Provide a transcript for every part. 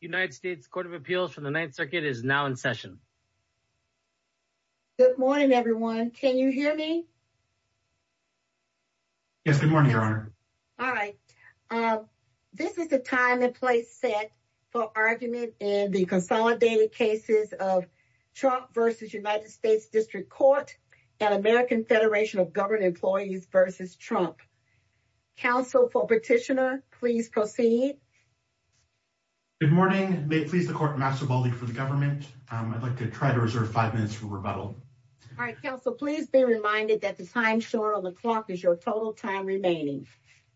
United States Court of Appeals for the Ninth Circuit is now in session. Good morning, everyone. Can you hear me? Yes, good morning, Your Honor. All right. This is the time and place set for argument in the consolidated cases of Trump v. United States District Court and American Federation of Governed Employees v. Trump. Counsel for Petitioner, please proceed. Good morning. May it please the Court, I'm Maxim Baldi for the government. I'd like to try to reserve five minutes for rebuttal. All right, Counsel, please be reminded that the time shown on the clock is your total time remaining.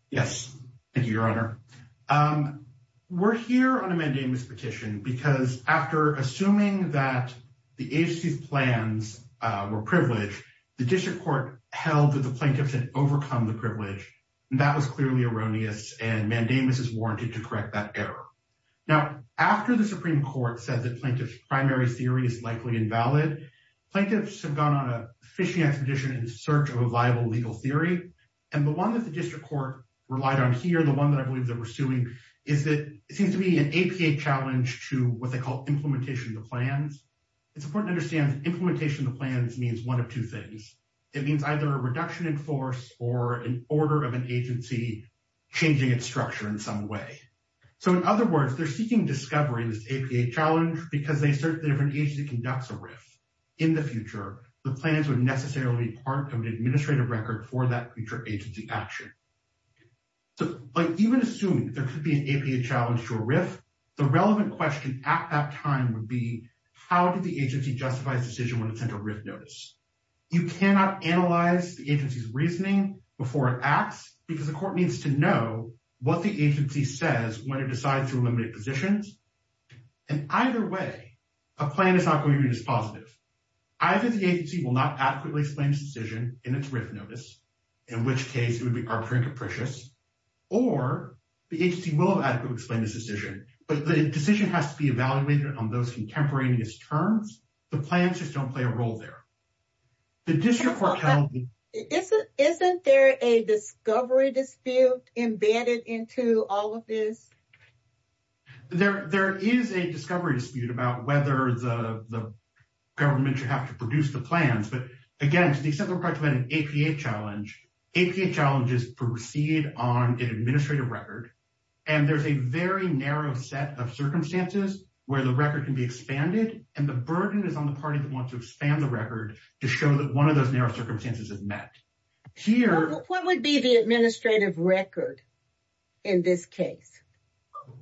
Yes, thank you, Your Honor. We're here on a mandamus petition because after assuming that the agency's plans were privileged, the district court held that the plaintiffs had overcome the privilege. That was clearly erroneous and mandamus is warranted to correct that error. Now, after the Supreme Court said that plaintiff's primary theory is likely invalid, plaintiffs have gone on a fishing expedition in search of a viable legal theory. And the one that the district court relied on here, the one that I believe that we're suing, is that it seems to be an APA challenge to what they call implementation of the plans. It's important to understand implementation of the plans means one of two things. It means either a reduction in force or an order of an agency changing its structure in some way. So, in other words, they're seeking discovery in this APA challenge because they assert that if an agency conducts a RIF in the future, the plans would necessarily be part of an administrative record for that future agency action. But even assuming there could be an APA challenge to a RIF, the relevant question at that time would be, how did the agency justify its decision when it sent a RIF notice? You cannot analyze the agency's reasoning before it acts because the court needs to know what the agency says when it decides to eliminate positions. And either way, a plan is not going to be as positive. Either the agency will not adequately explain its decision in its RIF notice, in which case it would be arbitrary and capricious, or the agency will adequately explain its decision, but the decision has to be evaluated on those contemporaneous terms. The plans just don't play a role there. Isn't there a discovery dispute embedded into all of this? There is a discovery dispute about whether the government should have to produce the plans. But again, to the extent that we're talking about an APA challenge, APA challenges proceed on an administrative record, and there's a very narrow set of circumstances where the record can be expanded, and the burden is on the party that wants to expand the record to show that one of those narrow circumstances is met. What would be the administrative record in this case?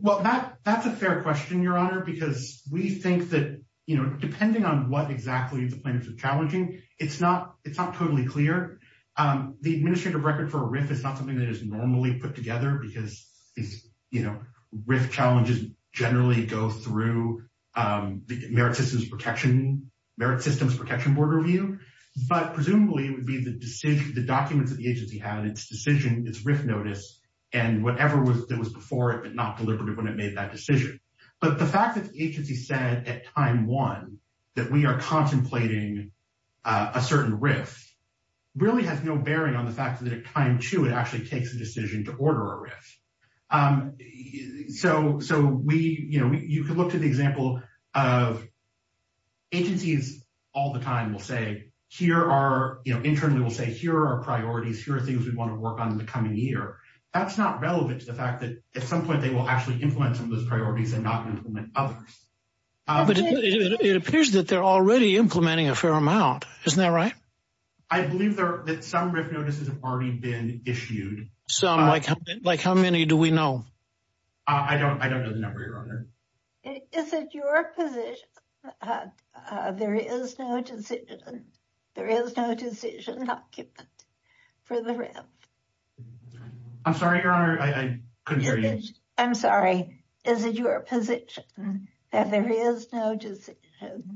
Well, that's a fair question, Your Honor, because we think that, you know, depending on what exactly the plaintiffs are challenging, it's not totally clear. The administrative record for a RIF is not something that is normally put together because these, you know, RIF challenges generally go through the Merit Systems Protection Board review. But presumably it would be the documents that the agency had, its decision, its RIF notice, and whatever was before it but not deliberative when it made that decision. But the fact that the agency said at time one that we are contemplating a certain RIF really has no bearing on the fact that at time two it actually takes a decision to order a RIF. So we, you know, you can look to the example of agencies all the time will say here are, you know, internally will say here are priorities, here are things we want to work on in the coming year. That's not relevant to the fact that at some point they will actually implement some of those priorities and not implement others. But it appears that they're already implementing a fair amount. Isn't that right? I believe that some RIF notices have already been issued. Some, like how many do we know? I don't know the number, Your Honor. Is it your position that there is no decision, there is no decision document for the RIF? I'm sorry, Your Honor, I couldn't hear you. I'm sorry, is it your position that there is no decision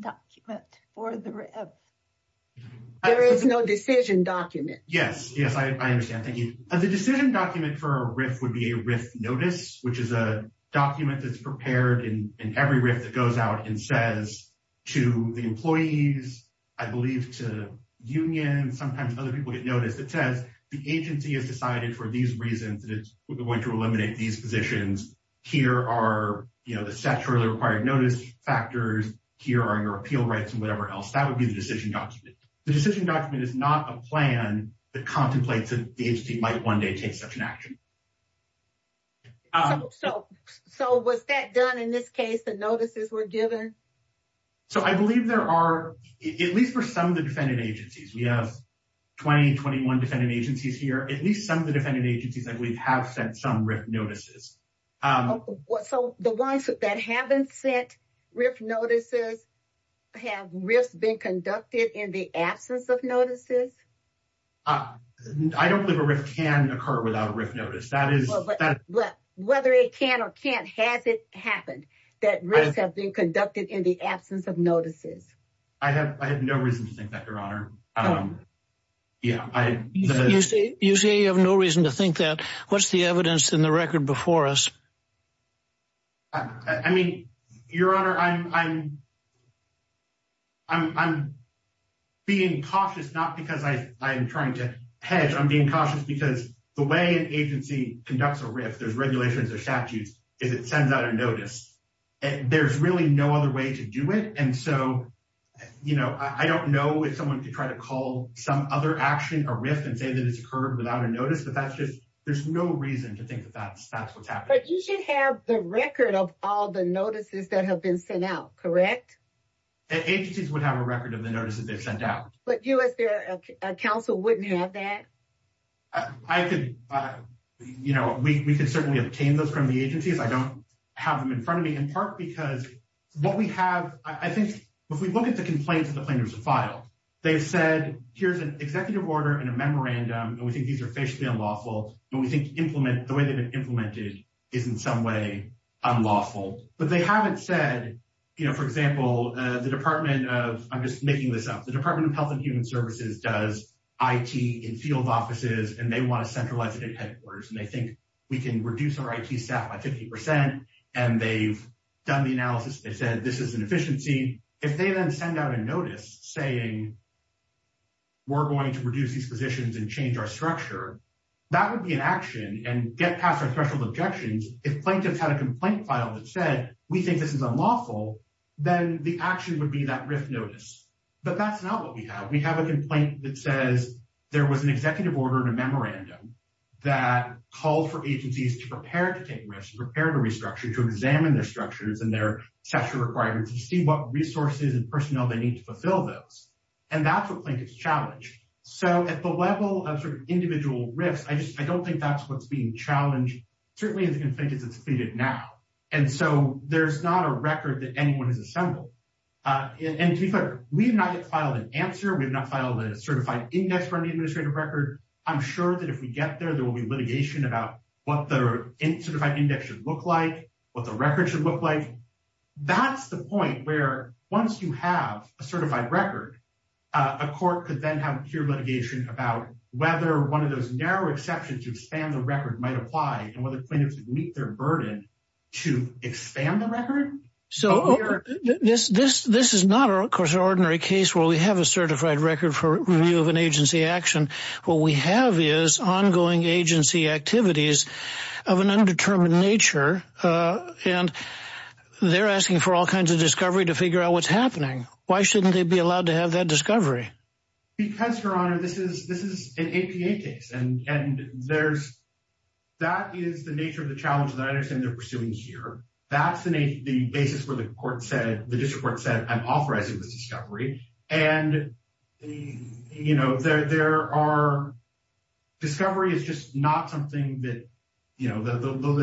document for the RIF? There is no decision document. Yes, yes, I understand. Thank you. The decision document for a RIF would be a RIF notice, which is a document that's prepared in every RIF that goes out and says to the employees, I believe to unions, sometimes other people get noticed. It says the agency has decided for these reasons that it's going to eliminate these positions. Here are, you know, the sexually required notice factors. Here are your appeal rights and whatever else. That would be the decision document. The decision document is not a plan that contemplates that the agency might one day take such an action. So was that done in this case, the notices were given? So I believe there are, at least for some of the defendant agencies, we have 20, 21 defendant agencies here, at least some of the defendant agencies that we have sent some RIF notices. So the ones that haven't sent RIF notices, have RIFs been conducted in the absence of notices? I don't believe a RIF can occur without a RIF notice. Whether it can or can't, has it happened that RIFs have been conducted in the absence of notices? I have no reason to think that, Your Honor. You say you have no reason to think that. What's the evidence in the record before us? I mean, Your Honor, I'm being cautious, not because I am trying to hedge. I'm being cautious because the way an agency conducts a RIF, there's regulations or statutes, is it sends out a notice. There's really no other way to do it. And so, you know, I don't know if someone could try to call some other action, a RIF, and say that it's occurred without a notice. But that's just, there's no reason to think that that's what's happened. But you should have the record of all the notices that have been sent out, correct? Agencies would have a record of the notices they've sent out. But you as their counsel wouldn't have that? I could, you know, we could certainly obtain those from the agencies. I don't have them in front of me, in part because what we have, I think, if we look at the complaints that the plaintiffs have filed, they've said, here's an executive order and a memorandum. And we think these are facially unlawful. But we think the way they've been implemented is in some way unlawful. But they haven't said, you know, for example, the Department of, I'm just making this up, the Department of Health and Human Services does IT in field offices. And they want to centralize it in headquarters. And they think we can reduce our IT staff by 50%. And they've done the analysis. They said this is an efficiency. If they then send out a notice saying we're going to reduce these positions and change our structure, that would be an action and get past our special objections. If plaintiffs had a complaint file that said we think this is unlawful, then the action would be that RIF notice. But that's not what we have. We have a complaint that says there was an executive order and a memorandum that called for agencies to prepare to take RIFs, prepare to restructure, to examine their structures and their structure requirements and see what resources and personnel they need to fulfill those. And that's what plaintiffs challenged. So at the level of sort of individual RIFs, I don't think that's what's being challenged. Certainly in the complaint it's completed now. And so there's not a record that anyone has assembled. And we have not yet filed an answer. We have not filed a certified index for an administrative record. I'm sure that if we get there, there will be litigation about what the certified index should look like, what the record should look like. That's the point where once you have a certified record, a court could then have pure litigation about whether one of those narrow exceptions to expand the record might apply and whether plaintiffs would meet their burden to expand the record. So this is not, of course, an ordinary case where we have a certified record for review of an agency action. What we have is ongoing agency activities of an undetermined nature. And they're asking for all kinds of discovery to figure out what's happening. Why shouldn't they be allowed to have that discovery? Because, Your Honor, this is an APA case. And that is the nature of the challenge that I understand they're pursuing here. That's the basis where the court said, the district court said, I'm authorizing this discovery. And, you know, there are discovery is just not something that, you know, the law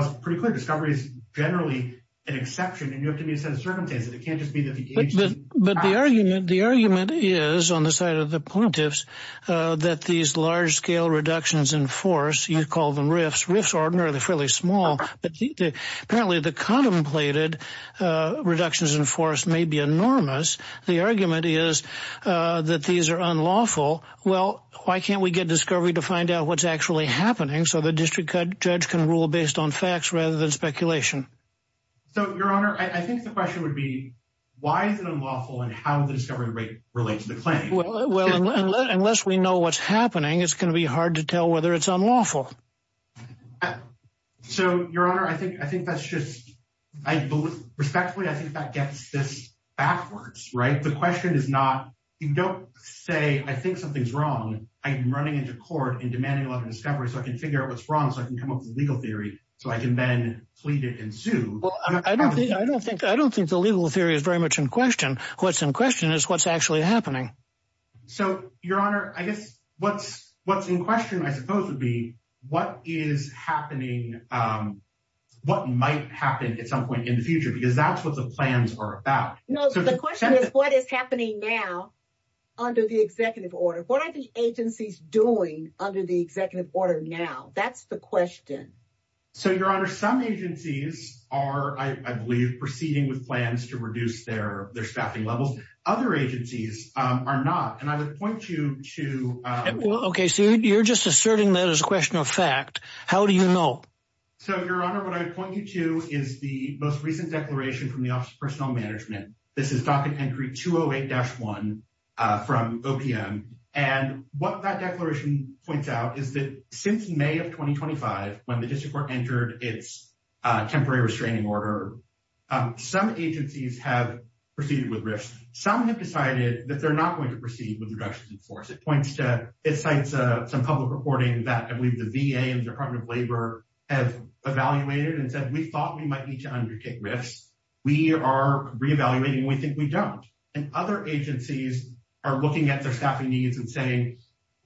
is pretty clear. Discovery is generally an exception. And you have to be a set of circumstances. It can't just be that the agency. But the argument the argument is on the side of the plaintiffs that these large scale reductions in force, you call them riffs, riffs, ordinarily fairly small. But apparently the contemplated reductions in force may be enormous. The argument is that these are unlawful. Well, why can't we get discovery to find out what's actually happening? So the district judge can rule based on facts rather than speculation. So, Your Honor, I think the question would be, why is it unlawful and how the discovery rate relates to the claim? Well, unless we know what's happening, it's going to be hard to tell whether it's unlawful. So, Your Honor, I think I think that's just I respectfully I think that gets this backwards. Right. The question is not you don't say I think something's wrong. I'm running into court and demanding a lot of discovery so I can figure out what's wrong. So I can come up with a legal theory so I can then plead it and sue. I don't think I don't think I don't think the legal theory is very much in question. What's in question is what's actually happening. So, Your Honor, I guess what's what's in question, I suppose, would be what is happening, what might happen at some point in the future, because that's what the plans are about. So the question is, what is happening now under the executive order? What are the agencies doing under the executive order now? That's the question. So, Your Honor, some agencies are, I believe, proceeding with plans to reduce their their staffing levels. Other agencies are not. And I would point you to. Well, OK, so you're just asserting that as a question of fact. How do you know? So, Your Honor, what I point you to is the most recent declaration from the Office of Personnel Management. This is docket entry 208-1 from OPM. And what that declaration points out is that since May of 2025, when the district court entered its temporary restraining order, some agencies have proceeded with risks. Some have decided that they're not going to proceed with reductions in force. It points to, it cites some public reporting that I believe the VA and Department of Labor have evaluated and said, we thought we might need to undertake risks. We are reevaluating. We think we don't. And other agencies are looking at their staffing needs and saying,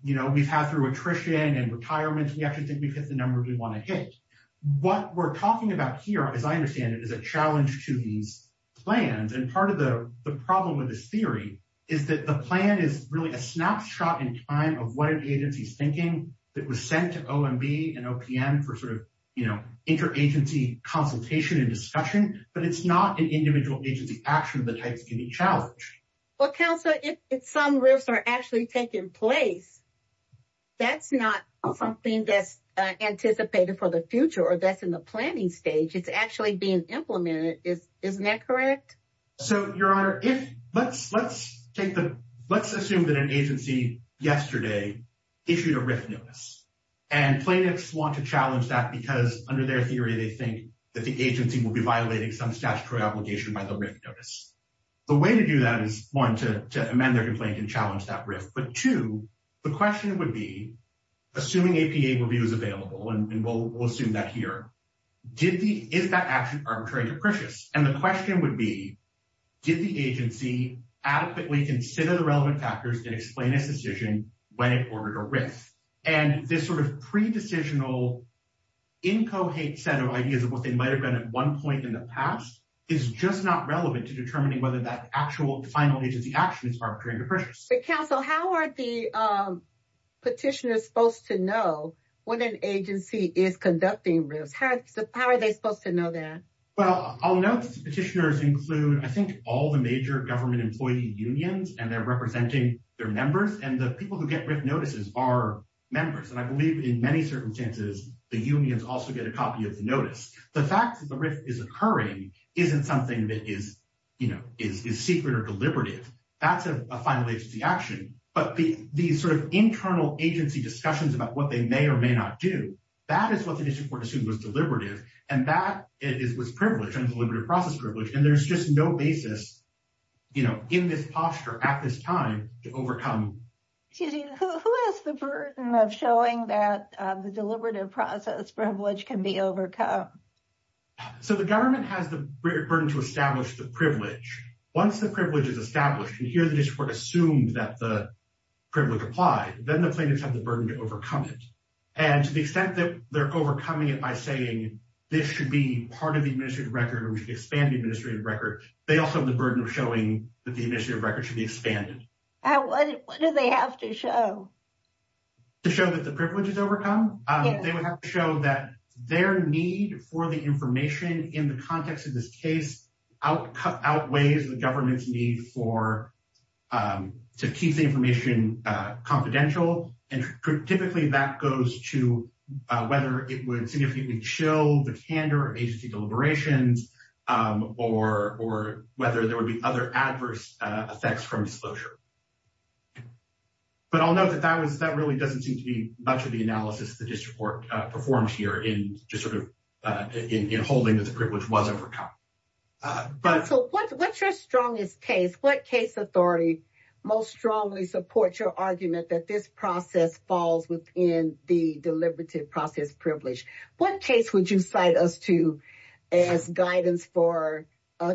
you know, we've had through attrition and retirement, we actually think we've hit the numbers we want to hit. What we're talking about here, as I understand it, is a challenge to these plans. And part of the problem with this theory is that the plan is really a snapshot in time of what an agency's thinking that was sent to OMB and OPM for sort of, you know, interagency consultation and discussion. But it's not an individual agency action of the types can be challenged. Well, Councilor, if some risks are actually taking place, that's not something that's anticipated for the future or that's in the planning stage. It's actually being implemented. Isn't that correct? So, Your Honor, let's assume that an agency yesterday issued a risk notice. And plaintiffs want to challenge that because under their theory, they think that the agency will be violating some statutory obligation by the risk notice. The way to do that is, one, to amend their complaint and challenge that risk. But, two, the question would be, assuming APA review is available, and we'll assume that here, is that action arbitrary and capricious? And the question would be, did the agency adequately consider the relevant factors and explain its decision when it ordered a risk? And this sort of pre-decisional, incohate set of ideas of what they might have done at one point in the past is just not relevant to determining whether that actual final agency action is arbitrary and capricious. But, Councilor, how are the petitioners supposed to know when an agency is conducting risks? How are they supposed to know that? Well, I'll note that the petitioners include, I think, all the major government employee unions, and they're representing their members. And the people who get risk notices are members. And I believe in many circumstances, the unions also get a copy of the notice. The fact that the risk is occurring isn't something that is secret or deliberative. That's a final agency action. But the sort of internal agency discussions about what they may or may not do, that is what the district court assumed was deliberative. And that was privilege, deliberative process privilege. And there's just no basis, you know, in this posture at this time to overcome. Who has the burden of showing that the deliberative process privilege can be overcome? So the government has the burden to establish the privilege. Once the privilege is established, and here the district court assumed that the privilege applied, then the plaintiffs have the burden to overcome it. And to the extent that they're overcoming it by saying this should be part of the administrative record, or we should expand the administrative record, they also have the burden of showing that the administrative record should be expanded. What do they have to show? To show that the privilege is overcome? They would have to show that their need for the information in the context of this case outweighs the government's need to keep the information confidential. And typically that goes to whether it would significantly chill the candor of agency deliberations, or whether there would be other adverse effects from disclosure. But I'll note that that really doesn't seem to be much of the analysis the district court performed here in just sort of holding that the privilege was overcome. So what's your strongest case? What case authority most strongly supports your argument that this process falls within the deliberative process privilege? What case would you cite us to as guidance for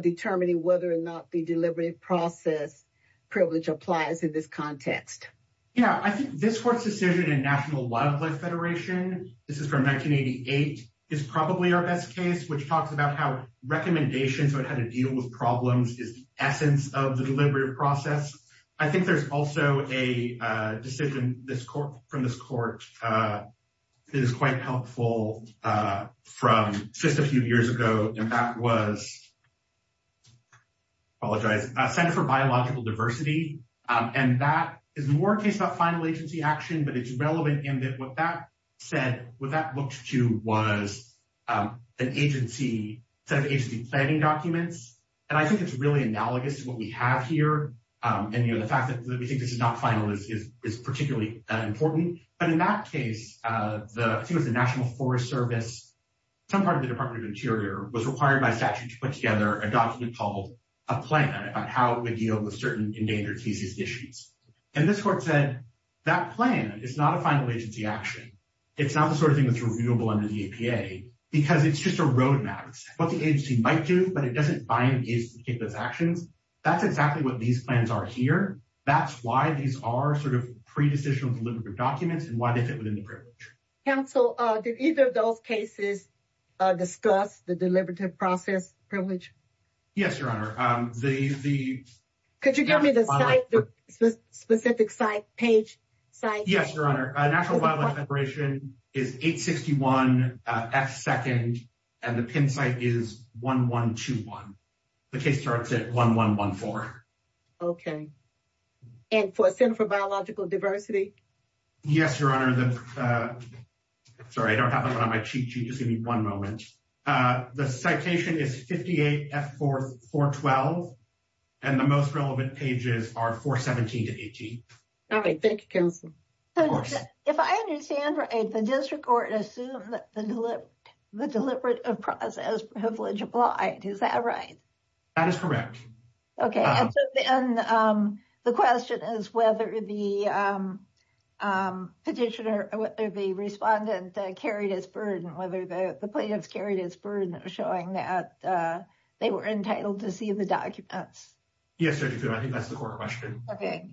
determining whether or not the deliberative process privilege applies in this context? Yeah, I think this court's decision in National Wildlife Federation, this is from 1988, is probably our best case, which talks about how recommendations on how to deal with problems is the essence of the deliberative process. I think there's also a decision from this court that is quite helpful from just a few years ago, and that was, I apologize, Center for Biological Diversity. And that is more a case about final agency action, but it's relevant in that what that said, what that looked to was an agency, set of agency planning documents. And I think it's really analogous to what we have here. And the fact that we think this is not final is particularly important. But in that case, the National Forest Service, some part of the Department of Interior was required by statute to put together a document called a plan about how we deal with certain endangered species issues. And this court said, that plan is not a final agency action. It's not the sort of thing that's reviewable under the APA, because it's just a roadmap. It's what the agency might do, but it doesn't bind the agency to take those actions. That's exactly what these plans are here. That's why these are sort of pre-decisional deliberative documents and why they fit within the privilege. Counsel, did either of those cases discuss the deliberative process privilege? Yes, Your Honor. Could you give me the site, the specific site page? Yes, Your Honor. National Wildlife Federation is 861 F2nd and the pin site is 1121. The case starts at 1114. Okay. And for Center for Biological Diversity? Yes, Your Honor. Sorry, I don't have it on my cheat sheet. Just give me one moment. The citation is 58 F4, 412 and the most relevant pages are 417 to 18. All right. Thank you, Counsel. If I understand right, the district court assumed that the deliberative process privilege applied. Is that right? That is correct. Okay. And the question is whether the petitioner or the respondent carried his burden, whether the plaintiffs carried his burden, showing that they were entitled to see the documents. Yes, I think that's the core question. Okay.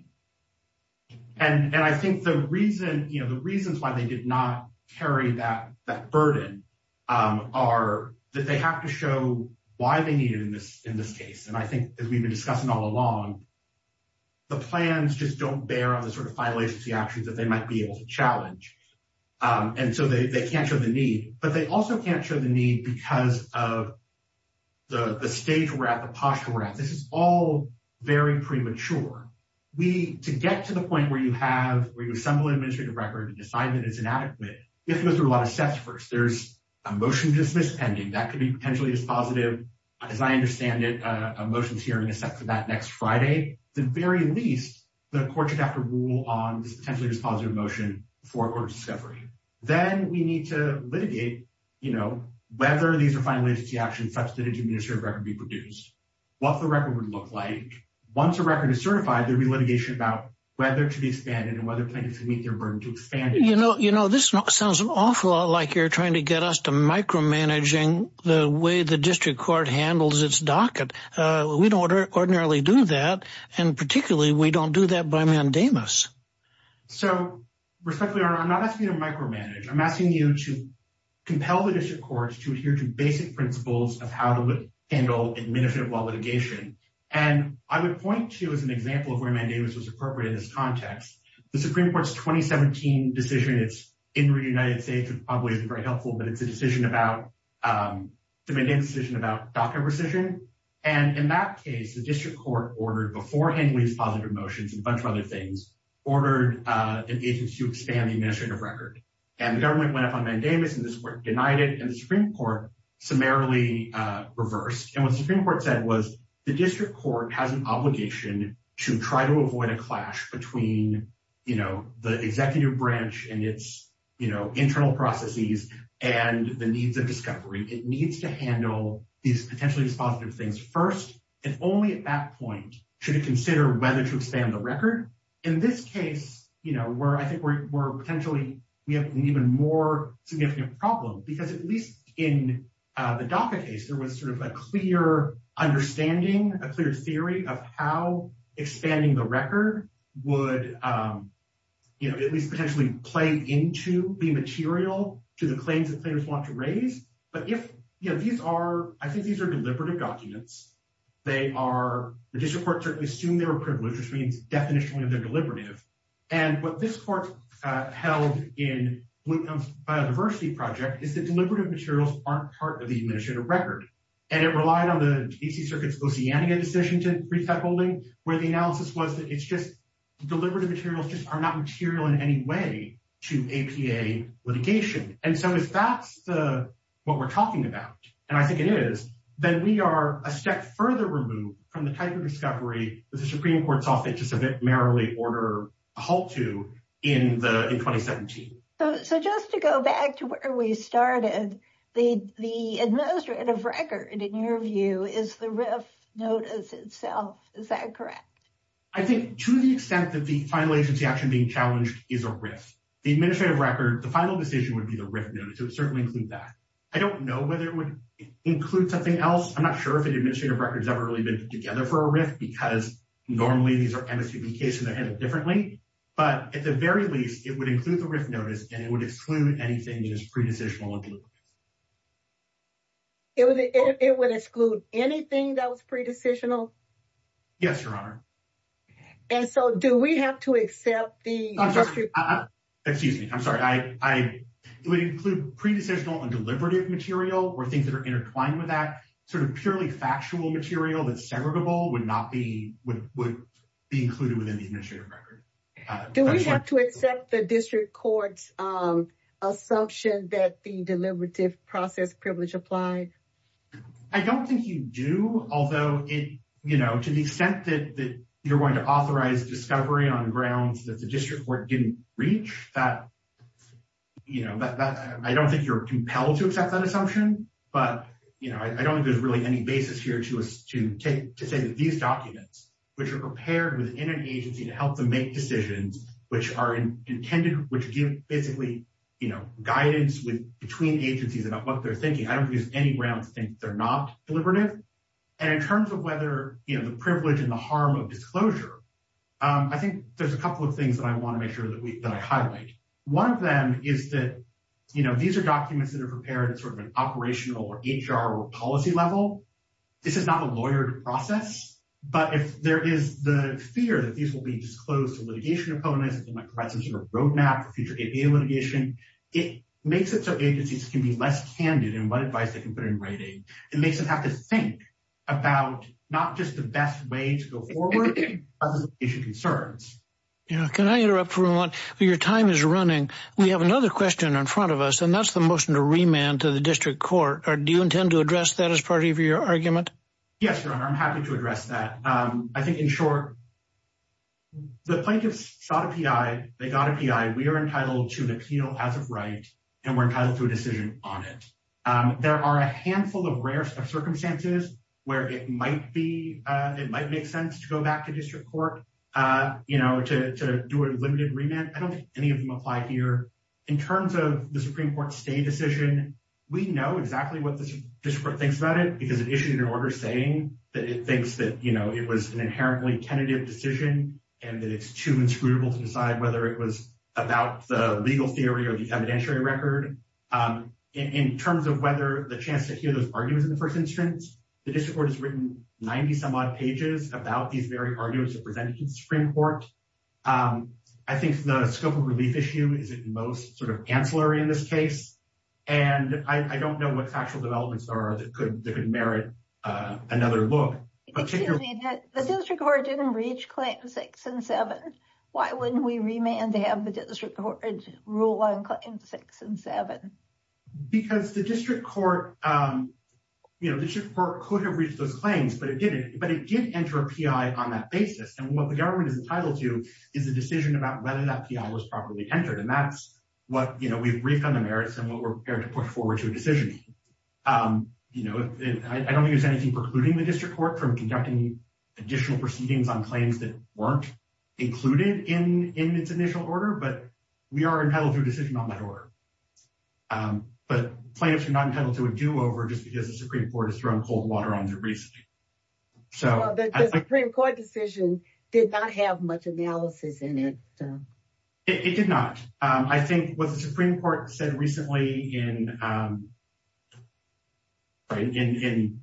And I think the reason, you know, the reasons why they did not carry that burden are that they have to show why they need it in this case. And I think as we've been discussing all along, the plans just don't bear on the sort of final agency actions that they might be able to challenge. And so they can't show the need, but they also can't show the need because of the stage we're at, the posture we're at. This is all very premature. To get to the point where you have, where you assemble an administrative record and decide that it's inadequate, you have to go through a lot of steps first. There's a motion to dismiss pending. That could be potentially dispositive. As I understand it, a motion to hearing is set for that next Friday. At the very least, the court should have to rule on this potentially dispositive motion before a court of discovery. Then we need to litigate, you know, whether these are final agency actions such that an administrative record be produced. What the record would look like. Once a record is certified, there'd be litigation about whether to be expanded and whether plaintiffs can meet their burden to expand it. You know, this sounds an awful lot like you're trying to get us to micromanaging the way the district court handles its docket. We don't ordinarily do that. And particularly, we don't do that by mandamus. So, respectfully, I'm not asking you to micromanage. I'm asking you to compel the district courts to adhere to basic principles of how to handle administrative law litigation. And I would point to as an example of where mandamus was appropriate in this context, the Supreme Court's 2017 decision. It's in the United States. It probably isn't very helpful, but it's a decision about the decision about docket rescission. And in that case, the district court ordered beforehand with positive motions and a bunch of other things, ordered an agency to expand the administrative record. And the government went up on mandamus, and this court denied it, and the Supreme Court summarily reversed. And what the Supreme Court said was the district court has an obligation to try to avoid a clash between, you know, the executive branch and its, you know, internal processes and the needs of discovery. It needs to handle these potentially dispositive things first. And only at that point should it consider whether to expand the record. In this case, you know, where I think we're potentially we have an even more significant problem, because at least in the DACA case, there was sort of a clear understanding, a clear theory of how expanding the record would, you know, at least potentially play into the material to the claims that players want to raise. But if, you know, these are, I think these are deliberative documents. They are, the district courts assume they were privileged, which means definitionally they're deliberative. And what this court held in Bloomfield's biodiversity project is that deliberative materials aren't part of the administrative record. And it relied on the DC Circuit's Oceania decision to brief that holding, where the analysis was that it's just deliberative materials just are not material in any way to APA litigation. And so if that's the, what we're talking about, and I think it is, then we are a step further removed from the type of discovery that the Supreme Court's office just a bit merrily ordered a halt to in 2017. So just to go back to where we started, the administrative record, in your view, is the RIF notice itself. Is that correct? I think to the extent that the final agency action being challenged is a RIF. The administrative record, the final decision would be the RIF notice. It would certainly include that. I don't know whether it would include something else. I'm not sure if an administrative record has ever really been put together for a RIF because normally these are MSPB cases that are handled differently. But at the very least, it would include the RIF notice and it would exclude anything just pre-decisional. It would exclude anything that was pre-decisional? Yes, Your Honor. And so do we have to accept the... Excuse me. I'm sorry. It would include pre-decisional and deliberative material or things that are intertwined with that sort of purely factual material that's segregable would not be included within the administrative record. Do we have to accept the district court's assumption that the deliberative process privilege applied? I don't think you do, although to the extent that you're going to authorize discovery on grounds that the district court didn't reach, I don't think you're compelled to accept that assumption. But I don't think there's really any basis here to say that these documents, which are prepared within an agency to help them make decisions, which give basically guidance between agencies about what they're thinking. I don't use any grounds to think they're not deliberative. And in terms of whether the privilege and the harm of disclosure, I think there's a couple of things that I want to make sure that I highlight. One of them is that these are documents that are prepared at sort of an operational or HR or policy level. This is not a lawyered process. But if there is the fear that these will be disclosed to litigation opponents, it might provide some sort of roadmap for future litigation. It makes it so agencies can be less candid in what advice they can put in writing. It makes them have to think about not just the best way to go forward, but to issue concerns. Can I interrupt for a moment? Your time is running. We have another question in front of us, and that's the motion to remand to the district court. Do you intend to address that as part of your argument? Yes, I'm happy to address that. I think in short, the plaintiffs sought a P.I. They got a P.I. We are entitled to an appeal as of right and we're entitled to a decision on it. There are a handful of rare circumstances where it might be. It might make sense to go back to district court, you know, to do a limited remand. I don't think any of them apply here in terms of the Supreme Court stay decision. We know exactly what the district court thinks about it because it issued an order saying that it thinks that, you know, it was an inherently tentative decision and that it's too inscrutable to decide whether it was about the legal theory or the evidentiary record. In terms of whether the chance to hear those arguments in the first instance, the district court has written 90 some odd pages about these very arguments presented to the Supreme Court. I think the scope of relief issue is at most sort of ancillary in this case. And I don't know what factual developments are that could merit another look. But the district court didn't reach claim six and seven. Why wouldn't we remand to have the district court rule on six and seven? Because the district court, you know, the district court could have reached those claims, but it didn't. But it did enter a P.I. on that basis. And what the government is entitled to is a decision about whether that P.I. was properly entered. And that's what we've briefed on the merits and what we're prepared to put forward to a decision. You know, I don't think there's anything precluding the district court from conducting additional proceedings on claims that weren't included in its initial order. But we are entitled to a decision on that order. But plaintiffs are not entitled to a do over just because the Supreme Court has thrown cold water on their briefs. The Supreme Court decision did not have much analysis in it. It did not. I think what the Supreme Court said recently in Willcox,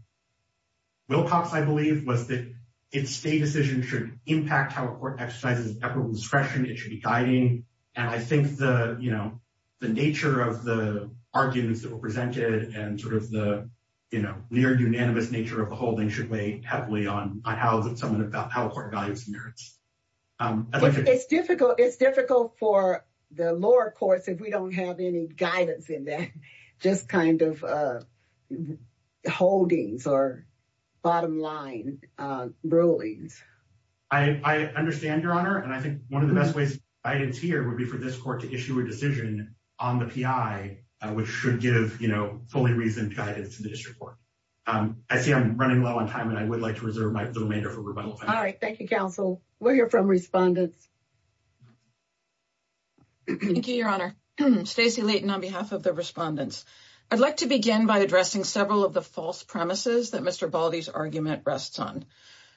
I believe, was that it's a decision should impact how court exercises discretion. It should be guiding. And I think the you know, the nature of the arguments that were presented and sort of the, you know, near unanimous nature of the holding should weigh heavily on how that someone about how court values merits. It's difficult. It's difficult for the lower courts if we don't have any guidance in that just kind of holdings or bottom line rulings. I understand, Your Honor. And I think one of the best ways here would be for this court to issue a decision on the P.I., which should give, you know, fully reasoned guidance to the district court. I see I'm running low on time and I would like to reserve the remainder for rebuttal. All right. Thank you, counsel. We'll hear from respondents. Thank you, Your Honor. Stacey Leighton on behalf of the respondents. I'd like to begin by addressing several of the false premises that Mr. Baldi's argument rests on.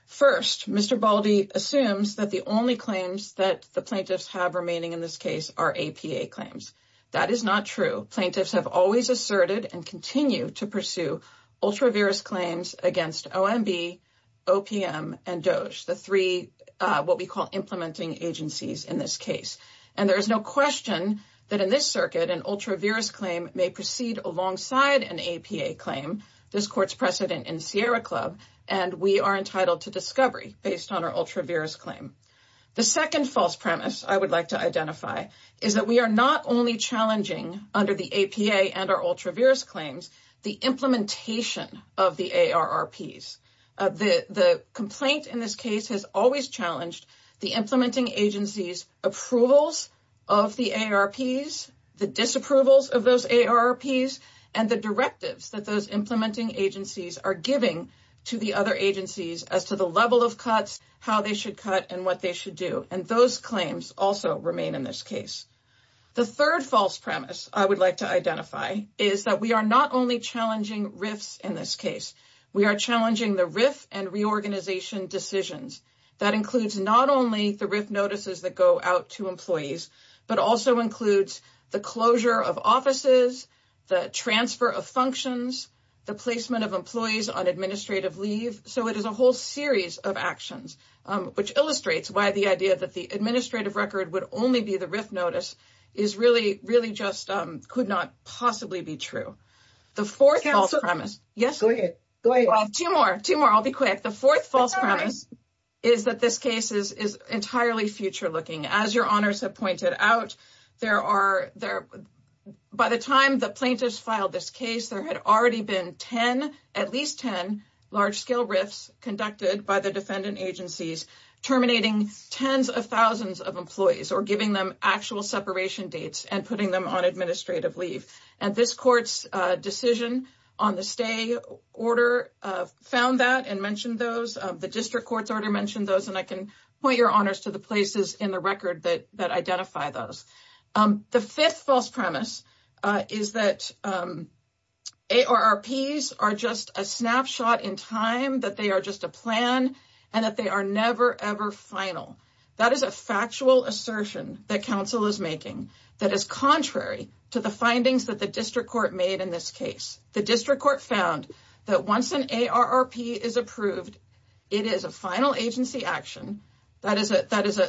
First, Mr. Baldi assumes that the only claims that the plaintiffs have remaining in this case are APA claims. That is not true. Plaintiffs have always asserted and continue to pursue ultra virus claims against OMB, OPM and DOJ. The three what we call implementing agencies in this case. And there is no question that in this circuit, an ultra virus claim may proceed alongside an APA claim. This court's precedent in Sierra Club and we are entitled to discovery based on our ultra virus claim. The second false premise I would like to identify is that we are not only challenging under the APA and our ultra virus claims, the implementation of the ARPs. The complaint in this case has always challenged the implementing agencies approvals of the ARPs, the disapprovals of those ARPs and the directives that those implementing agencies are giving to the other agencies as to the level of cuts, how they should cut and what they should do. And those claims also remain in this case. The third false premise I would like to identify is that we are not only challenging RIFs in this case. We are challenging the RIF and reorganization decisions that includes not only the RIF notices that go out to employees, but also includes the closure of offices, the transfer of functions, the placement of employees on administrative leave. So it is a whole series of actions which illustrates why the idea that the administrative record would only be the RIF notice is really, really just could not possibly be true. The fourth false premise is that this case is entirely future looking. As your honors have pointed out, by the time the plaintiffs filed this case, there had already been at least 10 large scale RIFs conducted by the defendant agencies terminating tens of thousands of employees or giving them actual separation dates and putting them on administrative leave. And this court's decision on the stay order found that and mentioned those. The district court's order mentioned those. And I can point your honors to the places in the record that identify those. The fifth false premise is that ARRPs are just a snapshot in time, that they are just a plan and that they are never, ever final. That is a factual assertion that counsel is making that is contrary to the findings that the district court made in this case. The district court found that once an ARRP is approved, it is a final agency action. That is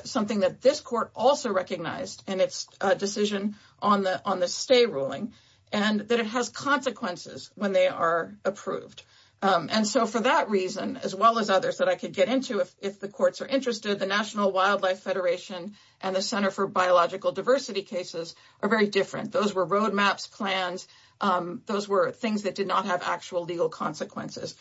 something that this court also recognized in its decision on the stay ruling and that it has consequences when they are approved. And so for that reason, as well as others that I could get into, if the courts are interested, the National Wildlife Federation and the Center for Biological Diversity cases are very different. Those were roadmaps, plans. Those were things that did not have actual legal consequences.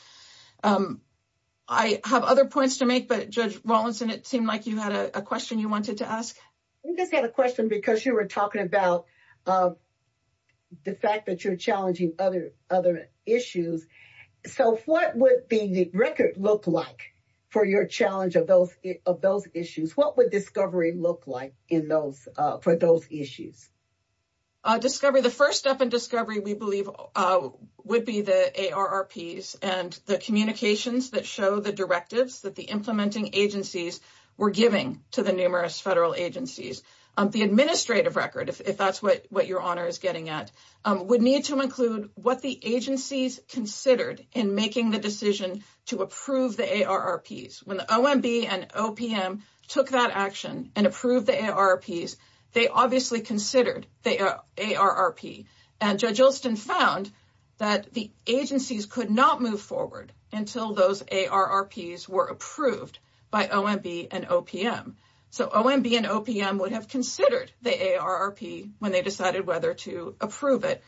I have other points to make, but Judge Rawlinson, it seemed like you had a question you wanted to ask. I just had a question because you were talking about the fact that you're challenging other issues. So what would the record look like for your challenge of those issues? What would discovery look like for those issues? The first step in discovery, we believe, would be the ARRPs and the communications that show the directives that the implementing agencies were giving to the numerous federal agencies. The administrative record, if that's what your honor is getting at, would need to include what the agencies considered in making the decision to approve the ARRPs. When the OMB and OPM took that action and approved the ARRPs, they obviously considered the ARRP. And Judge Olson found that the agencies could not move forward until those ARRPs were approved by OMB and OPM. So OMB and OPM would have considered the ARRP when they decided whether to approve it.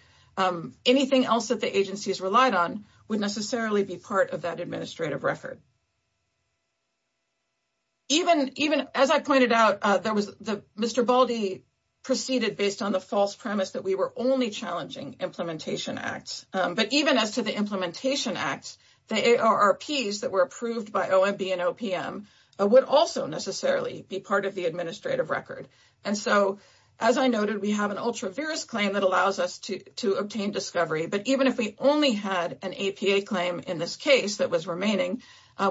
Anything else that the agencies relied on would necessarily be part of that administrative record. Even as I pointed out, Mr. Baldy proceeded based on the false premise that we were only challenging implementation acts. But even as to the implementation acts, the ARRPs that were approved by OMB and OPM would also necessarily be part of the administrative record. And so, as I noted, we have an ultra-virus claim that allows us to obtain discovery. But even if we only had an APA claim in this case that was remaining,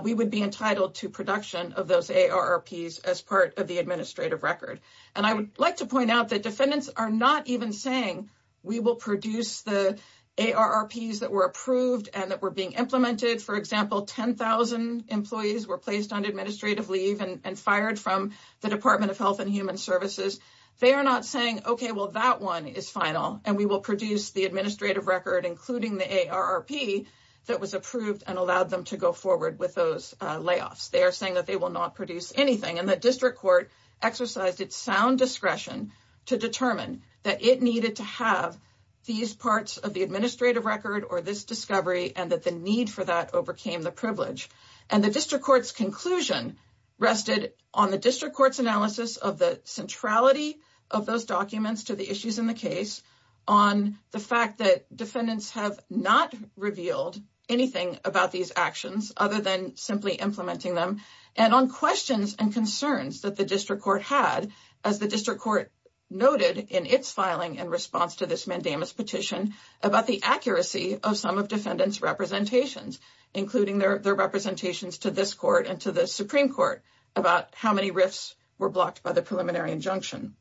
we would be entitled to production of those ARRPs as part of the administrative record. And I would like to point out that defendants are not even saying we will produce the ARRPs that were approved and that were being implemented. For example, 10,000 employees were placed on administrative leave and fired from the Department of Health and Human Services. They are not saying, okay, well, that one is final and we will produce the administrative record, including the ARRP that was approved and allowed them to go forward with those layoffs. They are saying that they will not produce anything. And the district court exercised its sound discretion to determine that it needed to have these parts of the administrative record or this discovery and that the need for that overcame the privilege. And the district court's conclusion rested on the district court's analysis of the centrality of those documents to the issues in the case, on the fact that defendants have not revealed anything about these actions other than simply implementing them, and on questions and concerns that the district court had, as the district court noted in its filing in response to this mandamus petition, about the accuracy of some of defendants' representations, including their representations to this court and to the Supreme Court, about how many RIFs were blocked by the preliminary injunction.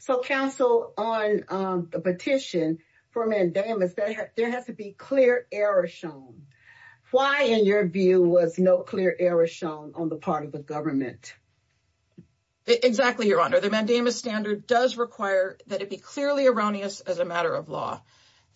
So, counsel, on the petition for mandamus, there has to be clear error shown. Why, in your view, was no clear error shown on the part of the government? Exactly, Your Honor. The mandamus standard does require that it be clearly erroneous as a matter of law.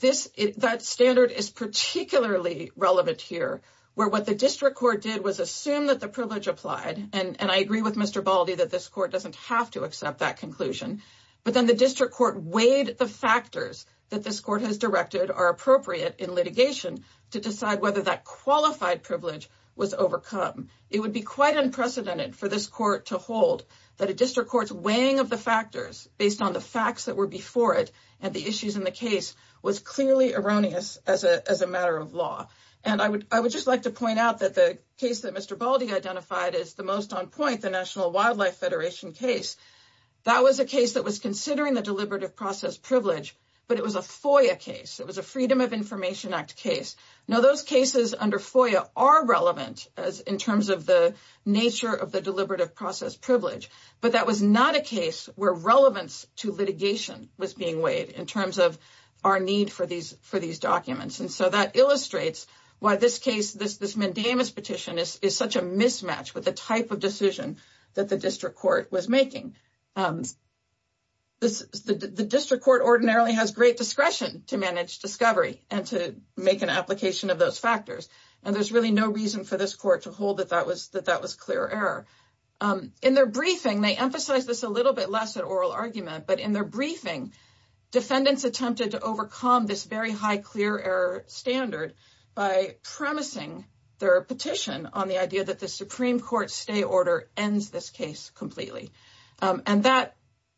That standard is particularly relevant here, where what the district court did was assume that the privilege applied, and I agree with Mr. Baldy that this court doesn't have to accept that conclusion, but then the district court weighed the factors that this court has directed are appropriate in litigation to decide whether that qualified privilege was overcome. It would be quite unprecedented for this court to hold that a district court's weighing of the factors based on the facts that were before it and the issues in the case was clearly erroneous as a matter of law. And I would just like to point out that the case that Mr. Baldy identified as the most on point, the National Wildlife Federation case, that was a case that was considering the deliberative process privilege, but it was a FOIA case. It was a Freedom of Information Act case. Now those cases under FOIA are relevant in terms of the nature of the deliberative process privilege, but that was not a case where relevance to litigation was being weighed in terms of our need for these documents. And so that illustrates why this case, this mandamus petition, is such a mismatch with the type of decision that the district court was making. The district court ordinarily has great discretion to manage discovery and to make an application of those factors, and there's really no reason for this court to hold that that was clear error. In their briefing, they emphasize this a little bit less at oral argument, but in their briefing, defendants attempted to overcome this very high clear error standard by promising their petition on the idea that the Supreme Court stay order ends this case completely. And that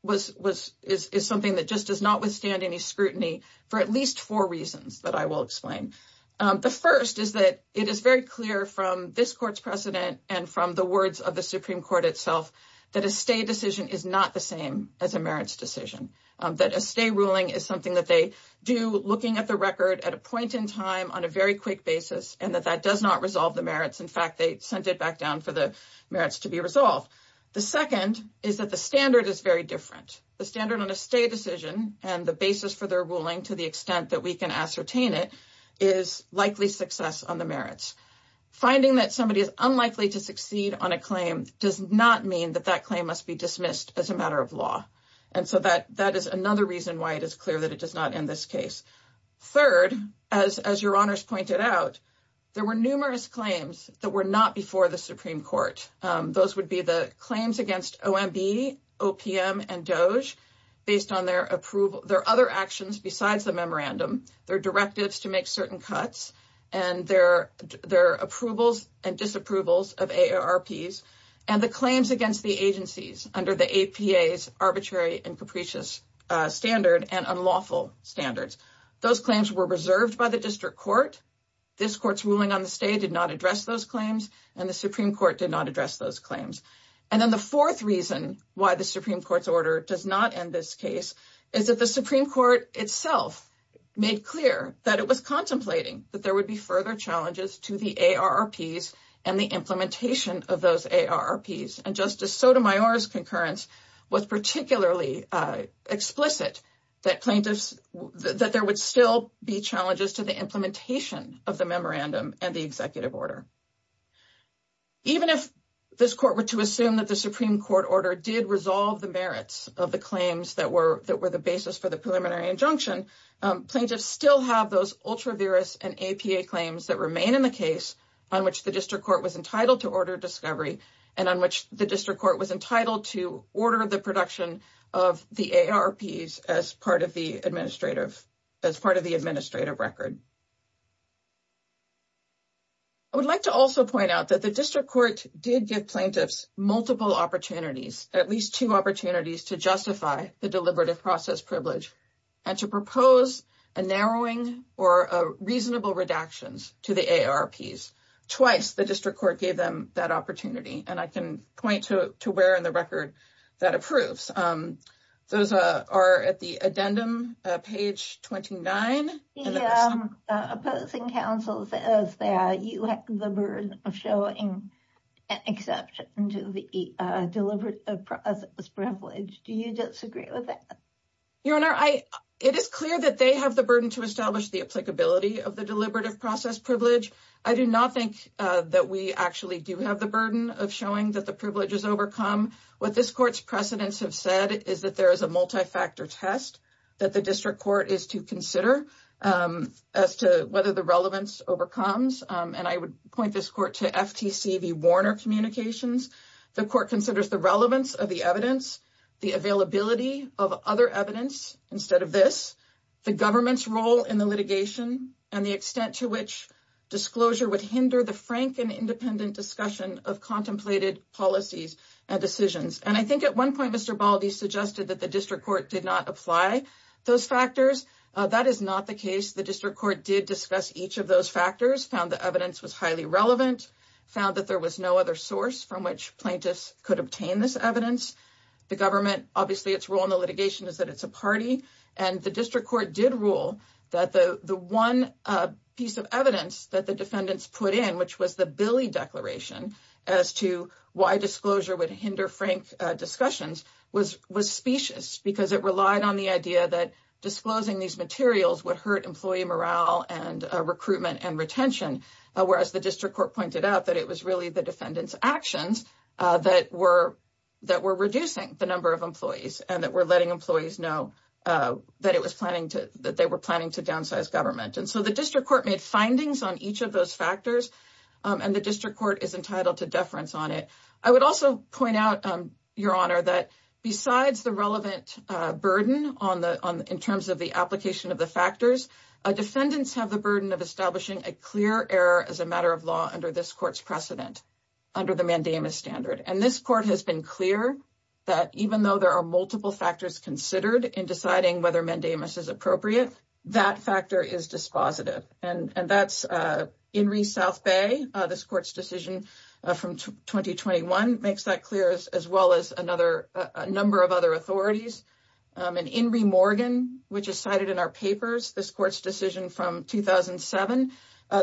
is something that just does not withstand any scrutiny for at least four reasons that I will explain. The first is that it is very clear from this court's precedent and from the words of the Supreme Court itself that a stay decision is not the same as a merits decision. That a stay ruling is something that they do looking at the record at a point in time on a very quick basis and that that does not resolve the merits. In fact, they sent it back down for the merits to be resolved. The second is that the standard is very different. The standard on a stay decision and the basis for their ruling to the extent that we can ascertain it is likely success on the merits. Finding that somebody is unlikely to succeed on a claim does not mean that that claim must be dismissed as a matter of law. And so that that is another reason why it is clear that it does not end this case. Third, as your honors pointed out, there were numerous claims that were not before the Supreme Court. Those would be the claims against OMB, OPM, and DOJ based on their other actions besides the memorandum, their directives to make certain cuts, and their approvals and disapprovals of AARPs, and the claims against the agencies under the APA's arbitrary and capricious standard and unlawful standards. Those claims were reserved by the District Court. This Court's ruling on the stay did not address those claims, and the Supreme Court did not address those claims. And then the fourth reason why the Supreme Court's order does not end this case is that the Supreme Court itself made clear that it was contemplating that there would be further challenges to the AARPs and the implementation of those AARPs. And Justice Sotomayor's concurrence was particularly explicit that plaintiffs, that there would still be challenges to the implementation of the memorandum and the executive order. Even if this Court were to assume that the Supreme Court order did resolve the merits of the claims that were, that were the basis for the preliminary injunction, plaintiffs still have those ultra-virus and APA claims that remain in the case on which the District Court was entitled to order discovery, and on which the District Court was entitled to order the production of the AARPs as part of the administrative, as part of the administrative record. I would like to also point out that the District Court did give plaintiffs multiple opportunities, at least two opportunities to justify the deliberative process privilege, and to propose a narrowing or reasonable redactions to the AARPs. Twice the District Court gave them that opportunity, and I can point to where in the record that approves. Those are at the addendum, page 29. The opposing counsel says that you have the burden of showing exception to the deliberative process privilege. Do you disagree with that? Your Honor, it is clear that they have the burden to establish the applicability of the deliberative process privilege. I do not think that we actually do have the burden of showing that the privilege is overcome. What this Court's precedents have said is that there is a multi-factor test that the District Court is to consider as to whether the relevance overcomes, and I would point this Court to FTC v. Warner Communications. The Court considers the relevance of the evidence, the availability of other evidence instead of this, the government's role in the litigation, and the extent to which disclosure would hinder the frank and independent discussion of contemplated policies and decisions. And I think at one point Mr. Baldi suggested that the District Court did not apply those factors. That is not the case. The District Court did discuss each of those factors, found the evidence was highly relevant, found that there was no other source from which plaintiffs could obtain this evidence. The government, obviously its role in the litigation is that it's a party, and the District Court did rule that the one piece of evidence that the defendants put in, which was the Billy Declaration as to why disclosure would hinder frank discussions, was specious because it relied on the idea that disclosing these materials would hurt employee morale and recruitment and retention, whereas the District Court pointed out that it was really the defendants' actions that were reducing the number of employees and that were letting employees know that they were planning to downsize government. And so the District Court made findings on each of those factors, and the District Court is entitled to deference on it. I would also point out, Your Honor, that besides the relevant burden in terms of the application of the factors, defendants have the burden of establishing a clear error as a matter of law under this Court's precedent, under the mandamus standard. And this Court has been clear that even though there are multiple factors considered in deciding whether mandamus is appropriate, that factor is dispositive. And that's Inree Southbay, this Court's decision from 2021 makes that clear, as well as a number of other authorities. And Inree Morgan, which is cited in our papers, this Court's decision from 2007,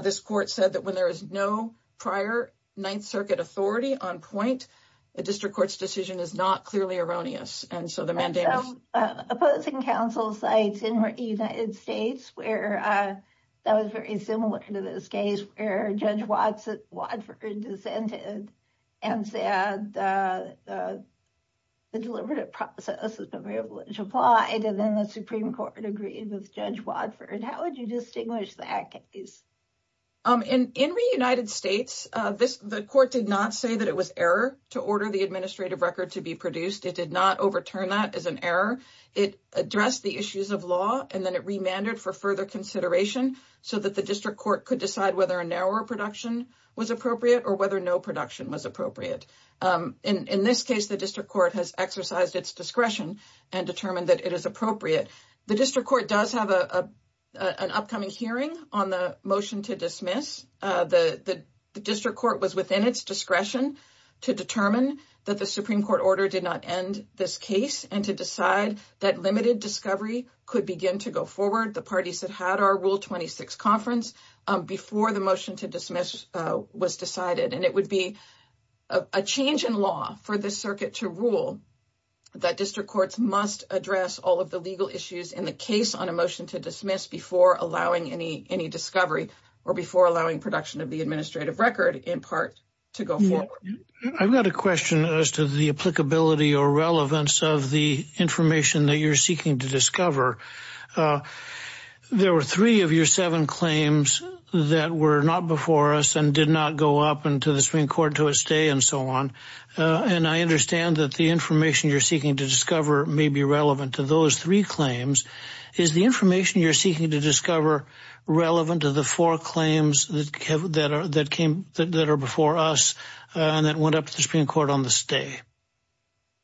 this Court said that when there is no prior Ninth Circuit authority on point, the District Court's decision is not clearly erroneous. And so the mandamus... And some opposing counsel sites in the United States where that was very similar to this case, where Judge Wadford dissented and said the deliberative process has been very well implied, and then the Supreme Court agreed with Judge Wadford. How would you distinguish that case? Inree, United States, the Court did not say that it was error to order the administrative record to be produced. It did not overturn that as an error. It addressed the issues of law, and then it remanded for further consideration so that the District Court could decide whether a narrower production was appropriate or whether no production was appropriate. In this case, the District Court has exercised its discretion and determined that it is appropriate. The District Court does have an upcoming hearing on the motion to dismiss. The District Court was within its discretion to determine that the Supreme Court order did not end this case and to decide that limited discovery could begin to go forward. The parties that had our Rule 26 conference before the motion to dismiss was decided. And it would be a change in law for this circuit to rule that District Courts must address all of the legal issues in the case on a motion to dismiss before allowing any discovery or before allowing production of the administrative record in part to go forward. I've got a question as to the applicability or relevance of the information that you're seeking to discover. There were three of your seven claims that were not before us and did not go up into the Supreme Court to a stay and so on. And I understand that the information you're seeking to discover may be relevant to those three claims. Is the information you're seeking to discover relevant to the four claims that are before us and that went up to the Supreme Court on the stay?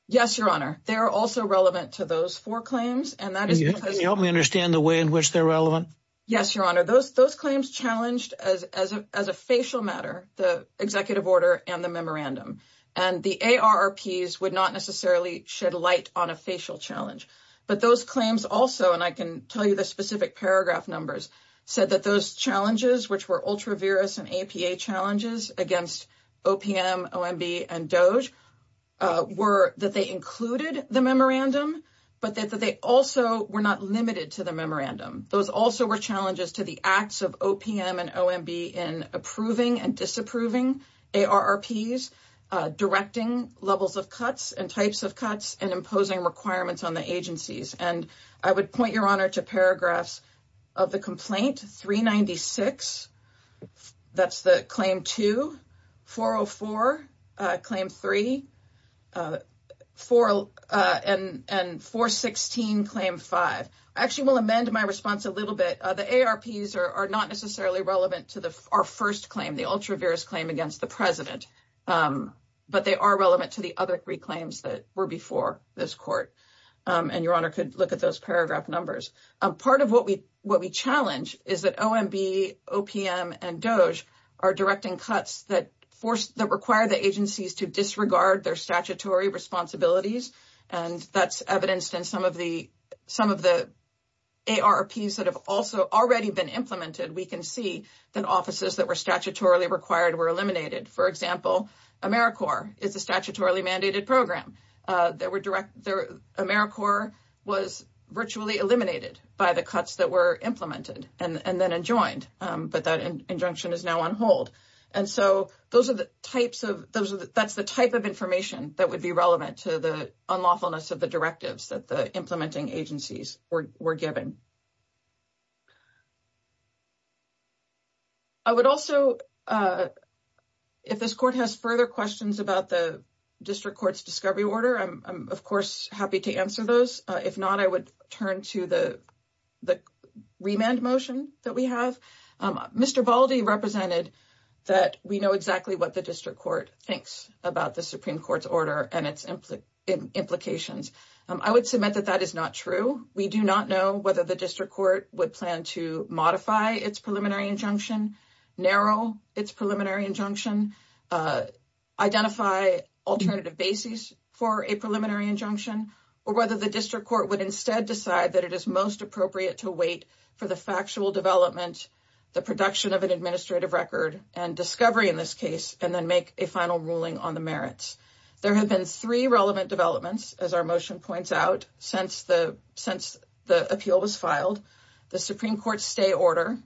Yes, Your Honor. They are also relevant to those four claims. Can you help me understand the way in which they're relevant? Yes, Your Honor. Those claims challenged as a facial matter, the executive order and the memorandum. And the ARRPs would not necessarily shed light on a facial challenge. But those claims also, and I can tell you the specific paragraph numbers, said that those challenges, which were ultra-virus and APA challenges against OPM, OMB and DOJ, were that they included the memorandum, but that they also were not limited to the memorandum. Those also were challenges to the acts of OPM and OMB in approving and disapproving ARRPs, directing levels of cuts and types of cuts and imposing requirements on the agencies. And I would point, Your Honor, to paragraphs of the complaint, 396. That's the claim to 404, claim three, four and four, 16, claim five. I actually will amend my response a little bit. The ARRPs are not necessarily relevant to our first claim, the ultra-virus claim against the president. But they are relevant to the other three claims that were before this court. And Your Honor could look at those paragraph numbers. Part of what we challenge is that OMB, OPM and DOJ are directing cuts that force, that require the agencies to disregard their statutory responsibilities. And that's evidenced in some of the ARRPs that have also already been implemented. We can see that offices that were statutorily required were eliminated. For example, AmeriCorps is a statutorily mandated program. AmeriCorps was virtually eliminated by the cuts that were implemented and then adjoined. But that injunction is now on hold. And so those are the types of, that's the type of information that would be relevant to the unlawfulness of the directives that the implementing agencies were given. I would also, if this court has further questions about the district court's discovery order, I'm of course happy to answer those. If not, I would turn to the remand motion that we have. Mr. Baldi represented that we know exactly what the district court thinks about the Supreme Court's order and its implications. I would submit that that is not true. We do not know whether the district court would plan to modify its preliminary injunction, narrow its preliminary injunction, identify alternative bases for a preliminary injunction, or whether the district court would instead decide that it is most appropriate to wait for the factual development, the production of an administrative record, and discovery in this case, and then make a final ruling on the merits. There have been three relevant developments, as our motion points out, since the appeal was filed. The Supreme Court's stay order,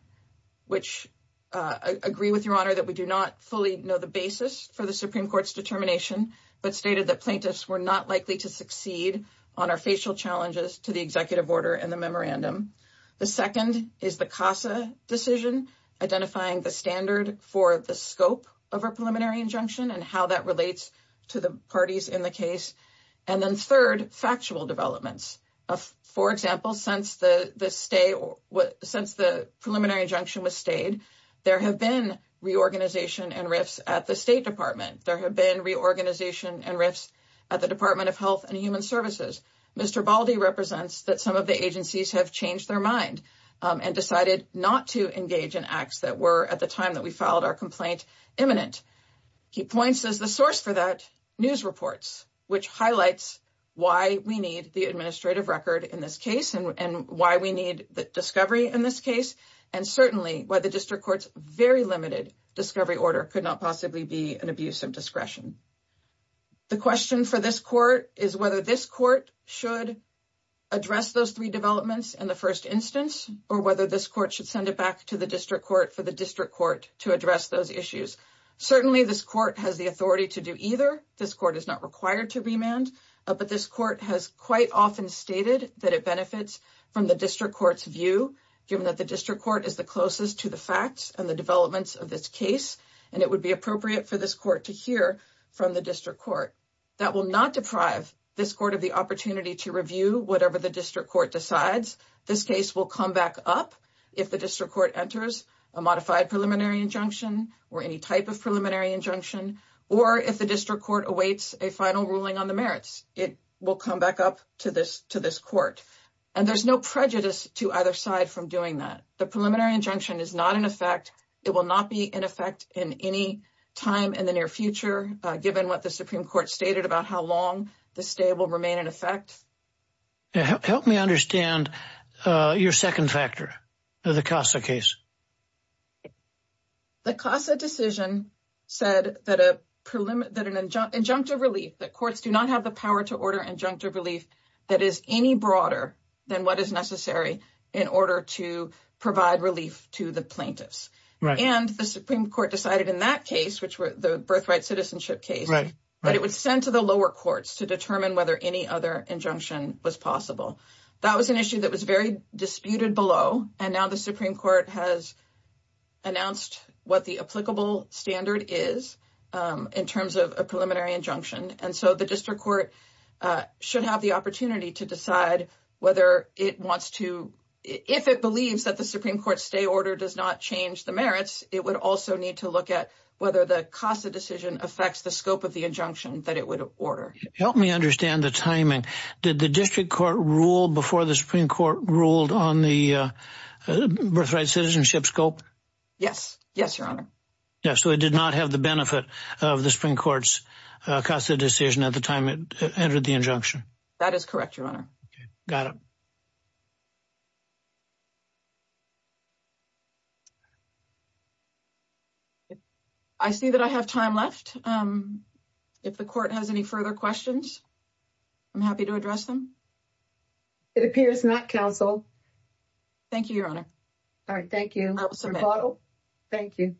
which I agree with, Your Honor, that we do not fully know the basis for the Supreme Court's determination, but stated that plaintiffs were not likely to succeed on our facial challenges to the executive order and the memorandum. The second is the CASA decision, identifying the standard for the scope of our preliminary injunction and how that relates to the parties in the case. And then third, factual developments. For example, since the preliminary injunction was stayed, there have been reorganization and rifts at the State Department. There have been reorganization and rifts at the Department of Health and Human Services. Mr. Baldy represents that some of the agencies have changed their mind and decided not to engage in acts that were, at the time that we filed our complaint, imminent. He points as the source for that news reports, which highlights why we need the administrative record in this case and why we need the discovery in this case and certainly why the district court's very limited discovery order could not possibly be an abuse of discretion. The question for this court is whether this court should address those three developments in the first instance or whether this court should send it back to the district court for the district court to address those issues. Certainly, this court has the authority to do either. This court is not required to remand, but this court has quite often stated that it benefits from the district court's view, given that the district court is the closest to the facts and the developments of this case, and it would be appropriate for this court to hear from the district court. That will not deprive this court of the opportunity to review whatever the district court decides. This case will come back up if the district court enters a modified preliminary injunction or any type of preliminary injunction, or if the district court awaits a final ruling on the merits. It will come back up to this court, and there's no prejudice to either side from doing that. The preliminary injunction is not in effect. It will not be in effect in any time in the near future, given what the Supreme Court stated about how long the stay will remain in effect. Help me understand your second factor of the CASA case. The CASA decision said that an injunctive relief, that courts do not have the power to order injunctive relief that is any broader than what is necessary in order to provide relief to the plaintiffs. And the Supreme Court decided in that case, the birthright citizenship case, but it was sent to the lower courts to determine whether any other injunction was possible. That was an issue that was very disputed below, and now the Supreme Court has announced what the applicable standard is in terms of a preliminary injunction. And so the district court should have the opportunity to decide whether it wants to, if it believes that the Supreme Court stay order does not change the merits, it would also need to look at whether the CASA decision affects the scope of the injunction that it would order. Help me understand the timing. Did the district court rule before the Supreme Court ruled on the birthright citizenship scope? Yes. Yes, Your Honor. So it did not have the benefit of the Supreme Court's CASA decision at the time it entered the injunction. That is correct, Your Honor. Got it. I see that I have time left. If the court has any further questions, I'm happy to address them. It appears not, counsel. Thank you, Your Honor. All right. Thank you. Thank you. Thank you,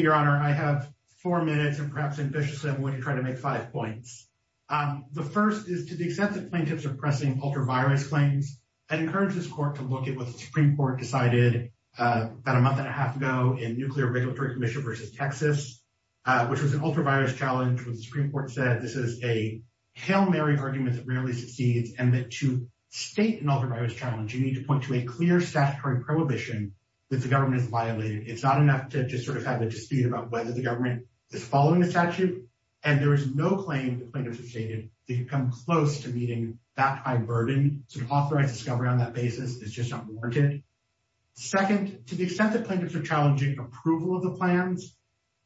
Your Honor. I have four minutes and perhaps ambitiously I'm going to try to make five points. The first is to the extent that plaintiffs are pressing ultra-virus claims, I'd encourage this court to look at what the Supreme Court decided about a month and a half ago in Nuclear Regulatory Commission versus Texas, which was an ultra-virus challenge. When the Supreme Court said this is a hail Mary argument that rarely succeeds and that to state an ultra-virus challenge, you need to point to a clear statutory prohibition that the government has violated. It's not enough to just sort of have a dispute about whether the government is following the statute. And there is no claim that plaintiffs have stated that you come close to meeting that high burden. So authorized discovery on that basis is just not warranted. Second, to the extent that plaintiffs are challenging approval of the plans,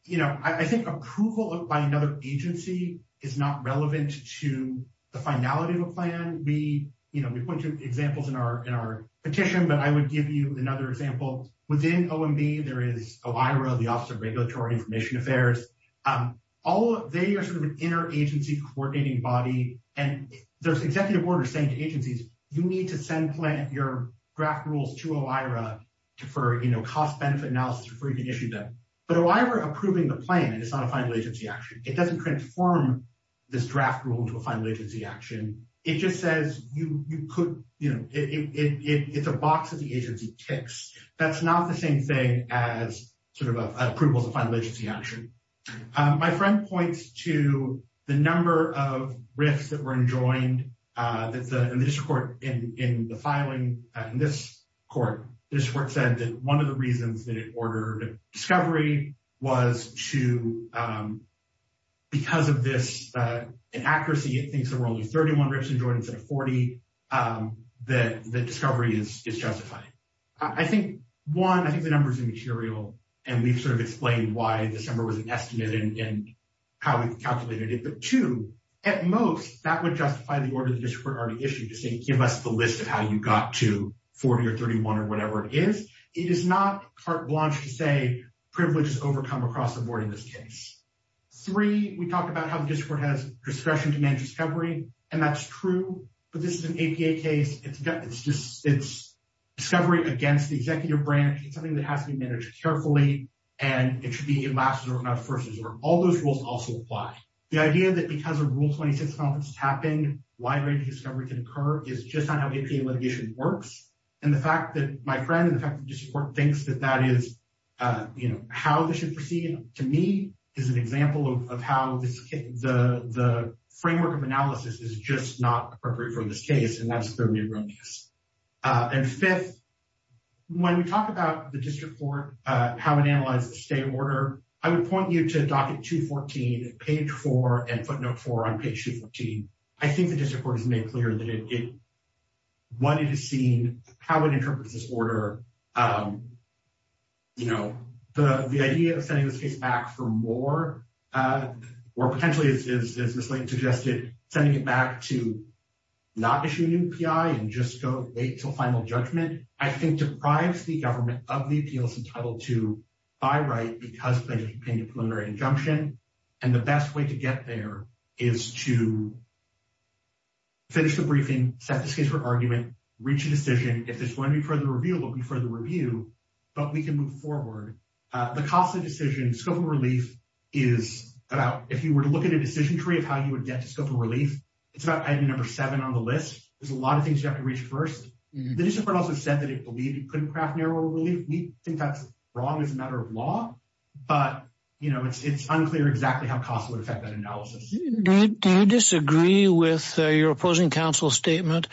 you know, I think approval by another agency is not relevant to the finality of a plan. We, you know, we point to examples in our petition, but I would give you another example. Within OMB, there is OIRA, the Office of Regulatory Information Affairs. They are sort of an inter-agency coordinating body, and there's executive orders saying to agencies, you need to send your draft rules to OIRA for, you know, cost-benefit analysis for you to issue them. But OIRA approving the plan is not a final agency action. It doesn't transform this draft rule into a final agency action. It just says, you know, it's a box that the agency ticks. That's not the same thing as sort of approval as a final agency action. My friend points to the number of RIFs that were enjoined in the district court in the filing. In this court, the district court said that one of the reasons that it ordered discovery was to, because of this inaccuracy, it thinks there were only 31 RIFs enjoined instead of 40, that discovery is justified. I think, one, I think the number is immaterial, and we've sort of explained why this number was an estimate and how we calculated it. But, two, at most, that would justify the order the district court already issued to say, give us the list of how you got to 40 or 31 or whatever it is. It is not carte blanche to say privilege is overcome across the board in this case. Three, we talked about how the district court has discretion to manage discovery, and that's true. But this is an APA case. It's discovery against the executive branch. It's something that has to be managed carefully, and it should be a last resort, not a first resort. All those rules also apply. The idea that because of Rule 26 conference tapping, wide-ranging discovery can occur is just not how APA litigation works. And the fact that my friend and the fact that the district court thinks that that is how this should proceed, to me, is an example of how the framework of analysis is just not appropriate for this case, and that's the Newgrum case. And fifth, when we talk about the district court, how it analyzes the stay order, I would point you to docket 214, page 4, and footnote 4 on page 214. I think the district court has made clear that it wanted to see how it interprets this order. You know, the idea of sending this case back for more, or potentially, as Ms. Lane suggested, sending it back to not issue a new PI and just go wait until final judgment, I think deprives the government of the appeals entitled to buy right because of a preliminary injunction. And the best way to get there is to finish the briefing, set this case for argument, reach a decision. And if there's going to be further review, there will be further review, but we can move forward. The cost of decision, scope of relief, is about if you were to look at a decision tree of how you would get to scope of relief, it's about item number seven on the list. There's a lot of things you have to reach first. The district court also said that it believed it couldn't craft narrower relief. We think that's wrong as a matter of law, but, you know, it's unclear exactly how cost would affect that analysis. Do you disagree with your opposing counsel's statement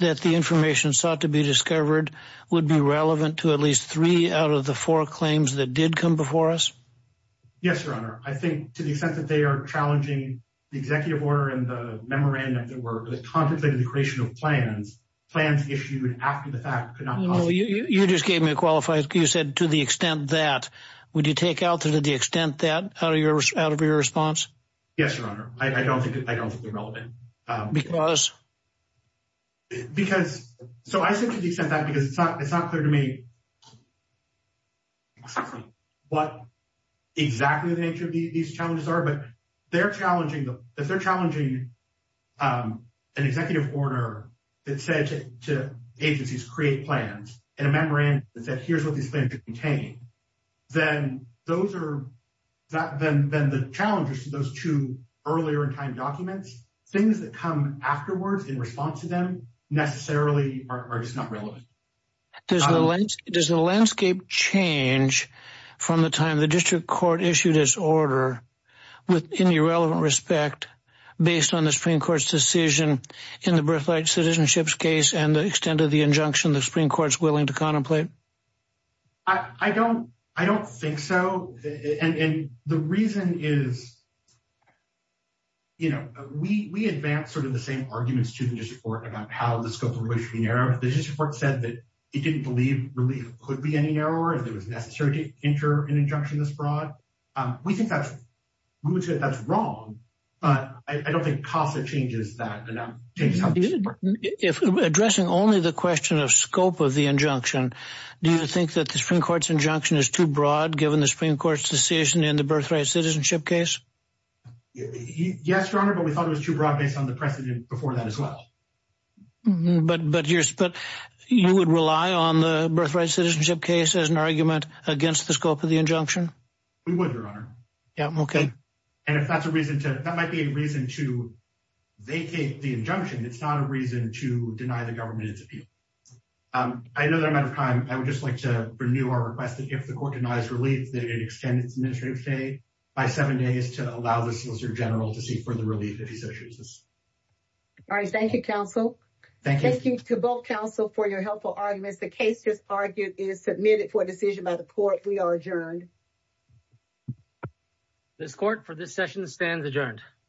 that the information sought to be discovered would be relevant to at least three out of the four claims that did come before us? Yes, Your Honor. I think to the extent that they are challenging the executive order and the memorandum that were contemplating the creation of plans, plans issued after the fact could not possibly- You just gave me a qualified, you said to the extent that. Would you take out to the extent that out of your response? Yes, Your Honor. I don't think they're relevant. Because? Because, so I said to the extent that because it's not clear to me exactly what exactly the nature of these challenges are, but they're challenging, if they're challenging an executive order that said to agencies, create plans and a memorandum that said here's what these plans should contain, then those are- then the challenges to those two earlier in time documents, things that come afterwards in response to them necessarily are just not relevant. Does the landscape change from the time the district court issued its order with any relevant respect based on the Supreme Court's decision in the Briff Light Citizenship case and the extent of the injunction the Supreme Court's willing to contemplate? I don't think so. And the reason is, you know, we advance sort of the same arguments to the district court about how the scope of relief should be narrowed. The district court said that it didn't believe relief could be any narrower if it was necessary to enter an injunction this broad. We think that's- we would say that's wrong, but I don't think CASA changes that. If addressing only the question of scope of the injunction, do you think that the Supreme Court's injunction is too broad given the Supreme Court's decision in the Briff Light Citizenship case? Yes, Your Honor, but we thought it was too broad based on the precedent before that as well. But you would rely on the Briff Light Citizenship case as an argument against the scope of the injunction? We would, Your Honor. Yeah, okay. And if that's a reason to- that might be a reason to vacate the injunction. It's not a reason to deny the government its appeal. I know that I'm out of time. I would just like to renew our request that if the court denies relief, that it extend its administrative stay by seven days to allow the Solicitor General to seek further relief if he so chooses. All right, thank you, counsel. Thank you. Thank you to both counsel for your helpful arguments. The case, as argued, is submitted for decision by the court. We are adjourned. This court, for this session, stands adjourned.